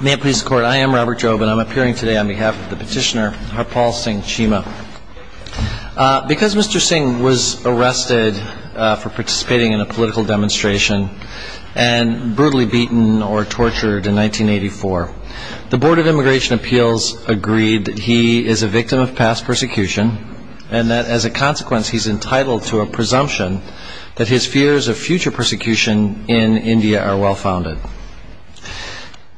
May it please the court, I am Robert Jobe and I'm appearing today on behalf of the petitioner Harpal Singh Cheema. Because Mr. Singh was arrested for participating in a political demonstration and brutally beaten or tortured in 1984, the Board of Immigration Appeals agreed that he is a victim of past persecution and that as a consequence he's entitled to a presumption that his fears of future persecution in India are well founded.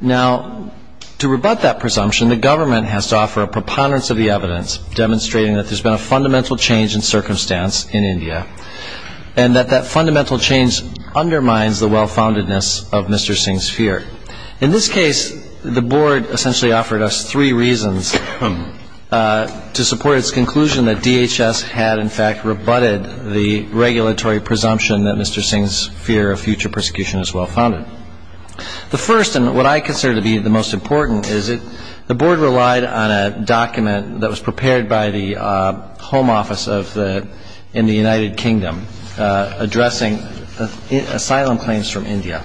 Now, to rebut that presumption, the government has to offer a preponderance of the evidence demonstrating that there's been a fundamental change in circumstance in India and that that fundamental change undermines the well-foundedness of Mr. Singh's fear. In this case, the Board essentially offered us three reasons to support its conclusion that DHS had in fact rebutted the regulatory presumption that Mr. Singh's fear of future persecution is well founded. The first and what I consider to be the most important is that the Board relied on a document that was prepared by the Home Office of the, in the United Kingdom, addressing asylum claims from India.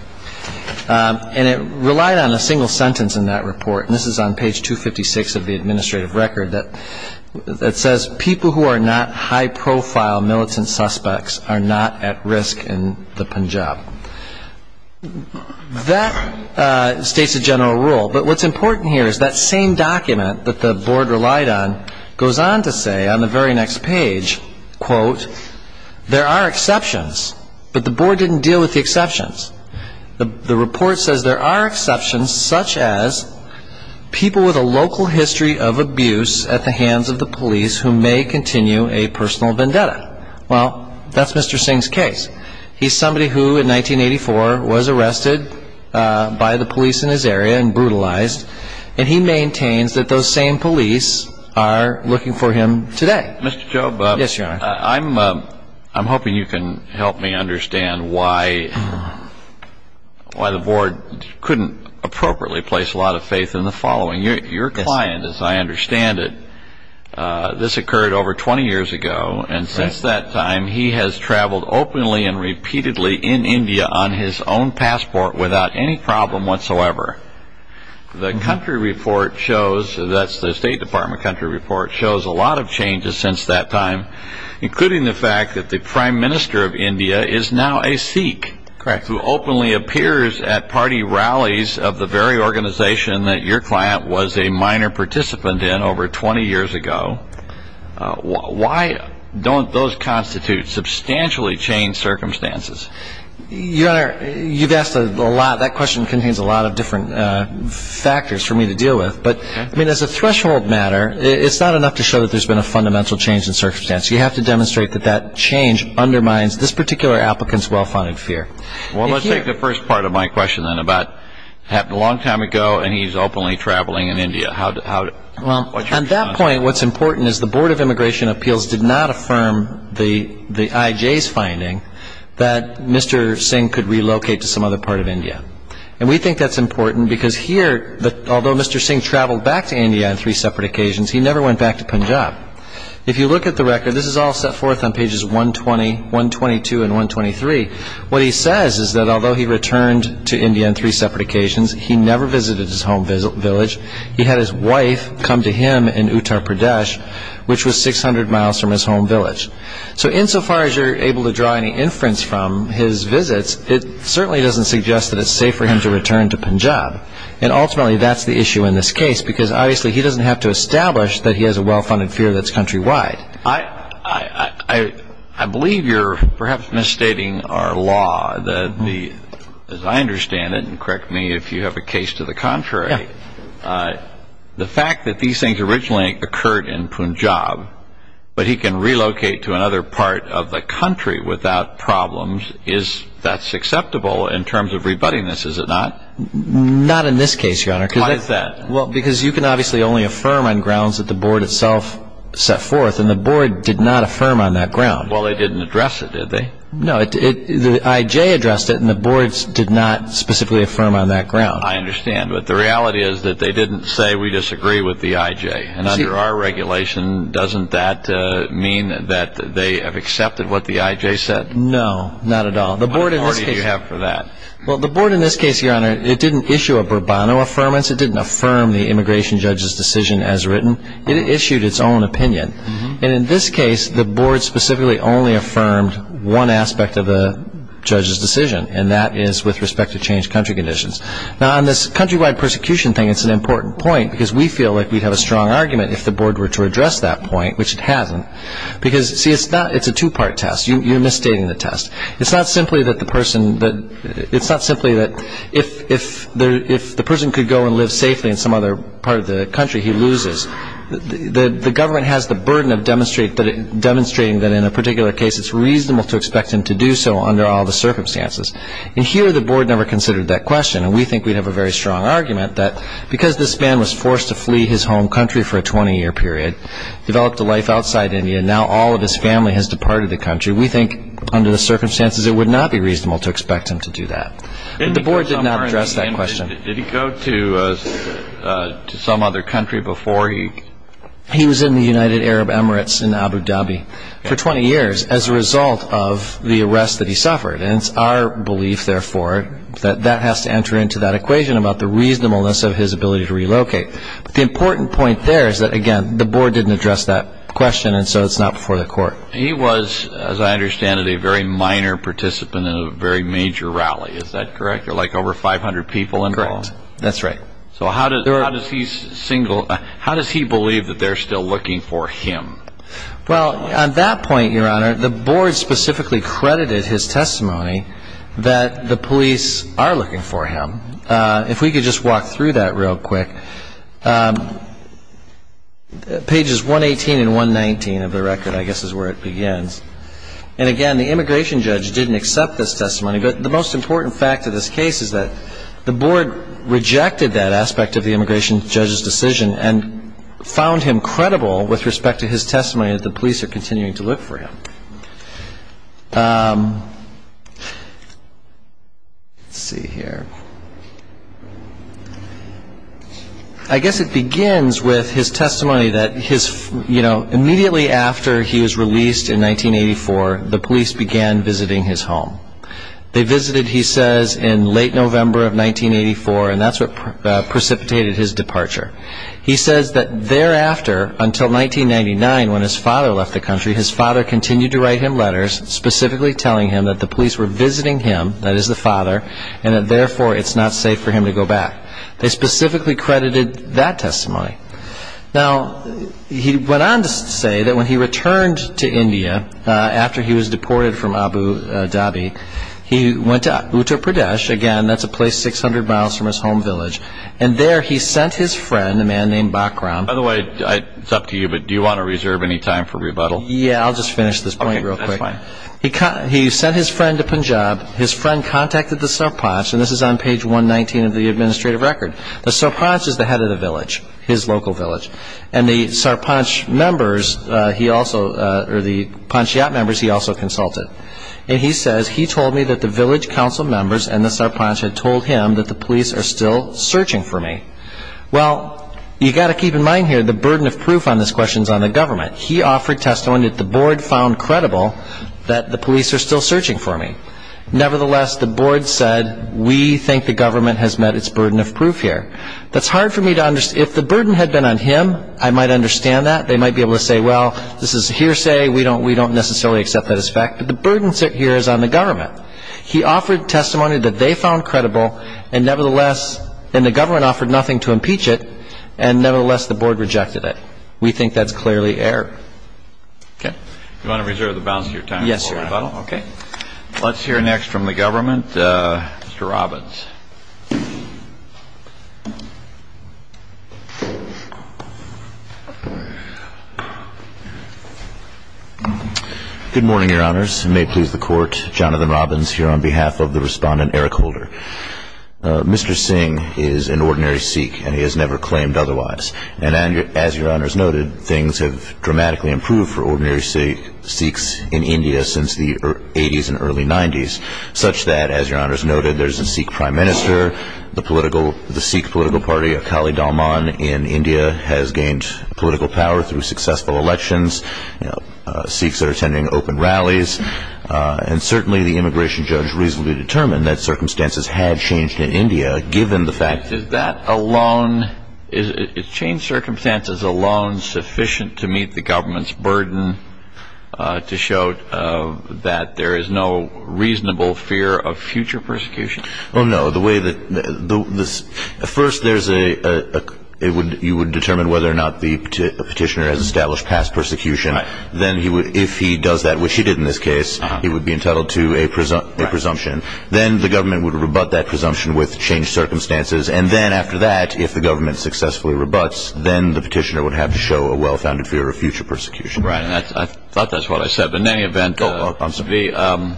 And it relied on a single sentence in that report, and this is on page 256 of the report, which states that, quote, there are exceptions, but the Board didn't deal with the exceptions. The report says there are exceptions such as people with a local passport. The State Department country report shows a lot of changes since that time, including the fact that the Prime Minister of India is now a Sikh who openly appears at party rallies of the very organization that your client was a minor participant in over 20 years ago. Why don't those constitute substantially changed circumstances? Your Honor, you've asked a lot, that question contains a lot of different factors for me to deal with. But, I mean, as a threshold matter, it's not enough to show that there's been a fundamental change in circumstance. You have to demonstrate that that change undermines this particular applicant's well-founded fear. Well, let's take the first part of my question then about, happened a long time ago and he's now a Sikh. Now, at some point, what's important is the Board of Immigration Appeals did not affirm the IJ's finding that Mr. Singh could relocate to some other part of India. And we think that's important because here, although Mr. Singh traveled back to India on three separate occasions, he never went back to Punjab. If you look at the record, this is all set forth on pages 120, 122, and 123. What he says is that although he returned to India on three separate occasions, he never visited his home village. He had his wife come to him in Uttar Pradesh, which was 600 miles from his home village. So insofar as you're able to draw any inference from his visits, it certainly doesn't suggest that it's safe for him to return to Punjab. And ultimately, that's the issue in this case because obviously he doesn't have to establish that he has a well-funded fear that's countrywide. I believe you're perhaps misstating our law that the, as I understand it, and correct me if you have a case to the contrary, the fact that these things originally occurred in Punjab, but he can relocate to another part of the country without problems, is that acceptable in terms of rebutting this, is it not? Not in this case, Your Honor. Why is that? Well, because you can obviously only affirm on grounds that the board itself set forth, and the board did not affirm on that ground. Well, they didn't address it, did they? No, the I.J. addressed it, and the board did not specifically affirm on that ground. I understand, but the reality is that they didn't say, we disagree with the I.J. And under our regulation, doesn't that mean that they have accepted what the I.J. said? No, not at all. What authority do you have for that? Well, the board in this case, Your Honor, it didn't issue a Bourbonno Affirmance. It didn't affirm the immigration judge's decision as written. It issued its own opinion. And in this case, the board specifically only affirmed one aspect of the judge's decision, and that is with respect to changed country conditions. Now, on this countrywide persecution thing, it's an important point, because we feel like we'd have a strong argument if the board were to address that point, which it hasn't. Because, see, it's a two-part test. You're misstating the test. It's not simply that the person that, it's not simply that if the person could go and live safely in some other part of the country, he loses. The government has the burden of demonstrating that in a particular case, it's reasonable to expect him to do so under all the circumstances. And here, the board never considered that question. And we think we'd have a very strong argument that because this man was forced to flee his home country for a 20-year period, developed a life outside India, and now all of his family has departed the country, we think under the circumstances, it would not be reasonable to expect him to do that. But the board did not address that question. Did he go to some other country before he He was in the United Arab Emirates in Abu Dhabi for 20 years as a result of the arrest that he suffered. And it's our belief, therefore, that that has to enter into that equation about the reasonableness of his ability to relocate. But the important point there is that, again, the board didn't address that question, and so it's not before the court. He was, as I understand it, a very minor participant in a very major rally. Is that correct? Like over 500 people involved? Correct. That's right. So how does he believe that they're still looking for him? Well, at that point, Your Honor, the board specifically credited his testimony that the police are looking for him. If we could just walk through that real quick. Pages 118 and 119 of the record, I guess, is where it begins. And again, the immigration judge didn't accept this testimony. But the most important fact of this case is that the board rejected that aspect of the immigration judge's decision and found him credible with respect to his testimony that the police are continuing to look for him. Let's see here. I guess it begins with his testimony that his, you know, immediately after he was released in 1984, the police began visiting his home. They visited, he says, in late November of 1984, and that's what precipitated his departure. He says that thereafter, until 1999, when his father left the country, his father continued to write him letters specifically telling him that the police were visiting him, that is the father, and that therefore it's not safe for him to go back. They specifically credited that testimony. Now, he went on to say that when he returned to India after he was deported from Abu Dhabi, he went to Uttar Pradesh. Again, that's a place 600 miles from his home village. And there he sent his friend, a man named Bakram. By the way, it's up to you, but do you want to reserve any time for rebuttal? Yeah, I'll just finish this point real quick. Okay, that's fine. He sent his friend to Punjab. His friend contacted the Sarpanch, and this is on page 119 of the administrative record. The Sarpanch is the head of the village, his local village. And the Sarpanch members, he also, or the Panchayat members, he also consulted. And he says, he told me that the village council members and the Sarpanch had told him that the police are still searching for me. Well, you've got to keep in mind here, the burden of proof on this question is on the government. He offered testimony that the board found credible that the police are still searching for me. Nevertheless, the board said, we think the government has met its burden of proof here. That's hard for me to understand. If the burden had been on him, I might understand that. They might be able to say, well, this is hearsay. We don't necessarily accept that as fact. But the burden here is on the government. He offered testimony that they found credible, and nevertheless, and the government offered nothing to impeach it, and nevertheless, the board rejected it. We think that's clearly error. Okay. Do you want to reserve the balance of your time before rebuttal? Yes, Your Honor. Okay. Let's hear next from the government, Mr. Robbins. Good morning, Your Honors. May it please the Court, Jonathan Robbins here on behalf of the Respondent Eric Holder. Mr. Singh is an ordinary Sikh, and he has never claimed otherwise. And as Your Honors noted, things have dramatically improved for ordinary Sikhs in India since the 80s and early 90s, such that, as Your Honors noted, there's a Sikh prime minister, the Sikh political party, Akali Dalman, in India has gained political power through successful elections. Sikhs are attending open rallies. And certainly, the immigration judge reasonably determined that circumstances had changed in India, given the fact Is that alone, is changed circumstances alone sufficient to meet the government's burden to show that there is no reasonable fear of future persecution? Oh, no. The way that this, at first, there's a, it would, you would determine whether or not the petitioner has established past persecution. Then he would, if he does that, which he did in this case, he would be entitled to a presumption. Then the government would rebut that presumption with changed circumstances. And then after that, if the government successfully rebuts, then the petitioner would have to show a well-founded fear of future persecution. Right. And that's, I thought that's what I said. But in any event, Oh, I'm sorry. the,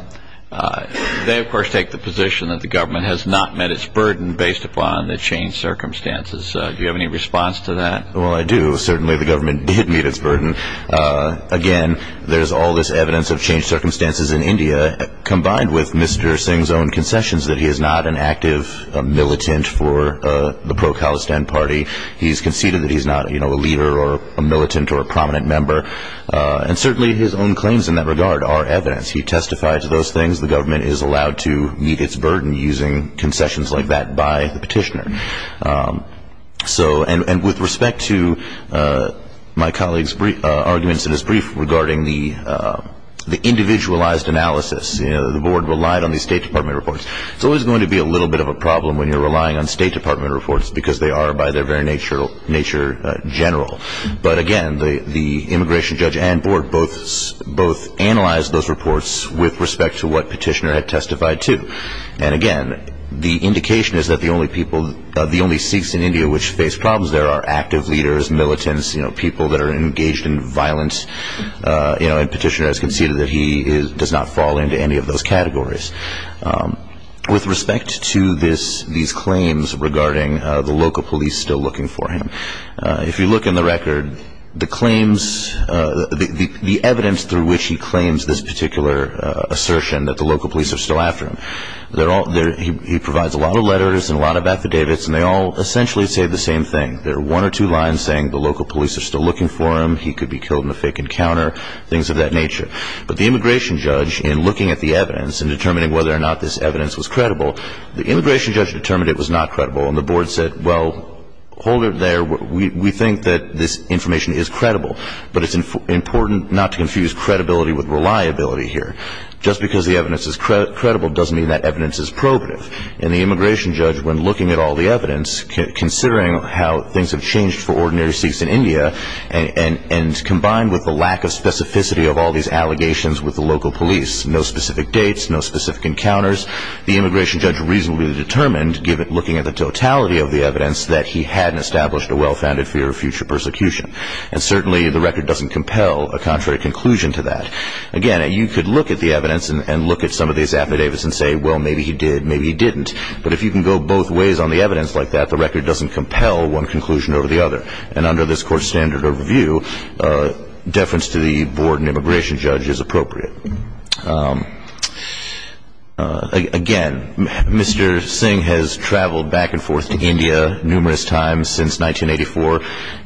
they, of course, take the position that the government has not met its burden based upon the changed circumstances. Do you have any response to that? Well, I do. Certainly, the government did meet its burden. Again, there's all this evidence of changed circumstances in India, combined with Mr. Singh's own concessions that he is not an active militant for the pro-Khalistan party. He's conceded that he's not, you know, a leader or a militant or a prominent member. And certainly his own claims in that regard are evidence. He testified to those things. The government is allowed to meet its burden using concessions like that by the petitioner. So, and with respect to my colleague's brief arguments in his brief regarding the individualized analysis, you know, the board relied on the State Department reports. It's always going to be a little bit of a problem when you're nature, nature general. But again, the, the immigration judge and board both, both analyzed those reports with respect to what petitioner had testified to. And again, the indication is that the only people, the only Sikhs in India which face problems there are active leaders, militants, you know, people that are engaged in violence. You know, and petitioner has conceded that he does not fall into any of those categories. With respect to this, these claims regarding the local police still looking for him. If you look in the record, the claims, the evidence through which he claims this particular assertion that the local police are still after him. They're all, he provides a lot of letters and a lot of affidavits and they all essentially say the same thing. There are one or two lines saying the local police are still looking for him. He could be killed in a fake encounter. Things of that nature. But the immigration judge in looking at the evidence and determining whether or not this evidence was credible, the immigration judge determined it was not credible and the board said, well, hold it there. We, we think that this information is credible. But it's important not to confuse credibility with reliability here. Just because the evidence is credible doesn't mean that evidence is probative. And the immigration judge, when looking at all the evidence, considering how things have changed for ordinary Sikhs in India and, and, and combined with the lack of specificity of all these allegations with the local police, no specific dates, no specific encounters, the immigration judge reasonably determined given, looking at the totality of the evidence, that he hadn't established a well-founded fear of future persecution. And certainly the record doesn't compel a contrary conclusion to that. Again, you could look at the evidence and look at some of these affidavits and say, well, maybe he did, maybe he didn't. But if you can go both ways on the evidence like that, the record doesn't compel one conclusion over the other. And under this court's standard of review, deference to the board and immigration judge is appropriate. Again, Mr. Singh has traveled back and forth to India numerous times since 1984.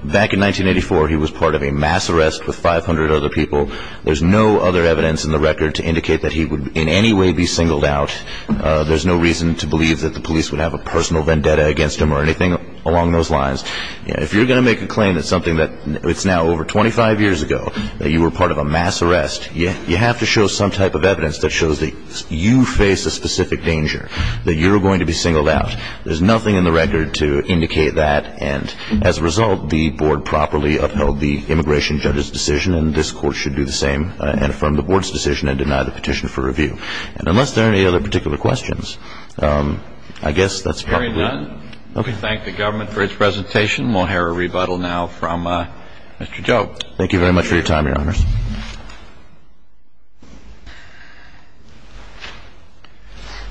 Back in 1984, he was part of a mass arrest with 500 other people. There's no other evidence in the record to indicate that he would in any way be singled out. There's no reason to believe that the police would have a personal vendetta against him or anything along those lines. If you're going to make a claim that something that's now over 25 years ago, that you were part of a mass arrest, you have to show some type of evidence that shows that you face a specific danger, that you're going to be singled out. There's nothing in the record to indicate that. And as a result, the board properly upheld the immigration judge's decision and this court should do the same and affirm the board's decision and deny the petition for review. And unless there are any other particular questions, I guess that's probably it. Okay. Thank the government for its presentation. We'll hear a rebuttal now from Mr. Joe. Thank you very much for your time, Your Honors.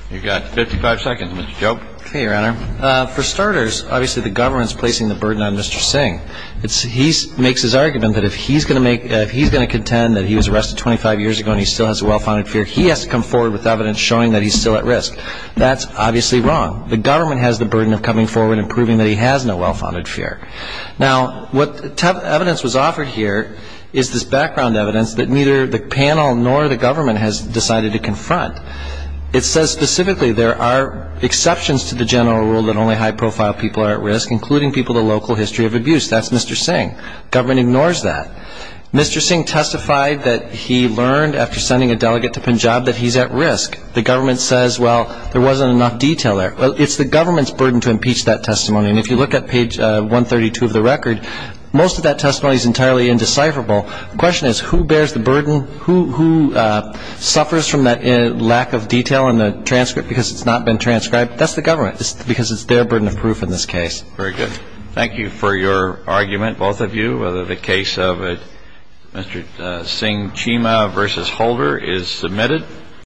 You've got 55 seconds, Mr. Joe. Okay, Your Honor. For starters, obviously the government's placing the burden on Mr. Singh. He makes his argument that if he's going to make – if he's going to contend that he was arrested 25 years ago and he still has a well-founded fear, he has to come forward with evidence showing that he's still at risk. That's obviously wrong. The government has the burden of coming forward and proving that he has no well-founded fear. Now, what evidence was offered here is this background evidence that neither the panel nor the government has decided to confront. It says specifically there are exceptions to the general rule that only high-profile people are at risk, including people with a local history of abuse. That's Mr. Singh. The government ignores that. Mr. Singh testified that he learned after sending a delegate to Punjab that he's at to impeach that testimony. And if you look at page 132 of the record, most of that testimony is entirely indecipherable. The question is, who bears the burden? Who suffers from that lack of detail in the transcript because it's not been transcribed? That's the government just because it's their burden of proof in this case. Very good. Thank you for your argument, both of you, whether the case of Mr. Singh-Chima v. Holder is submitted.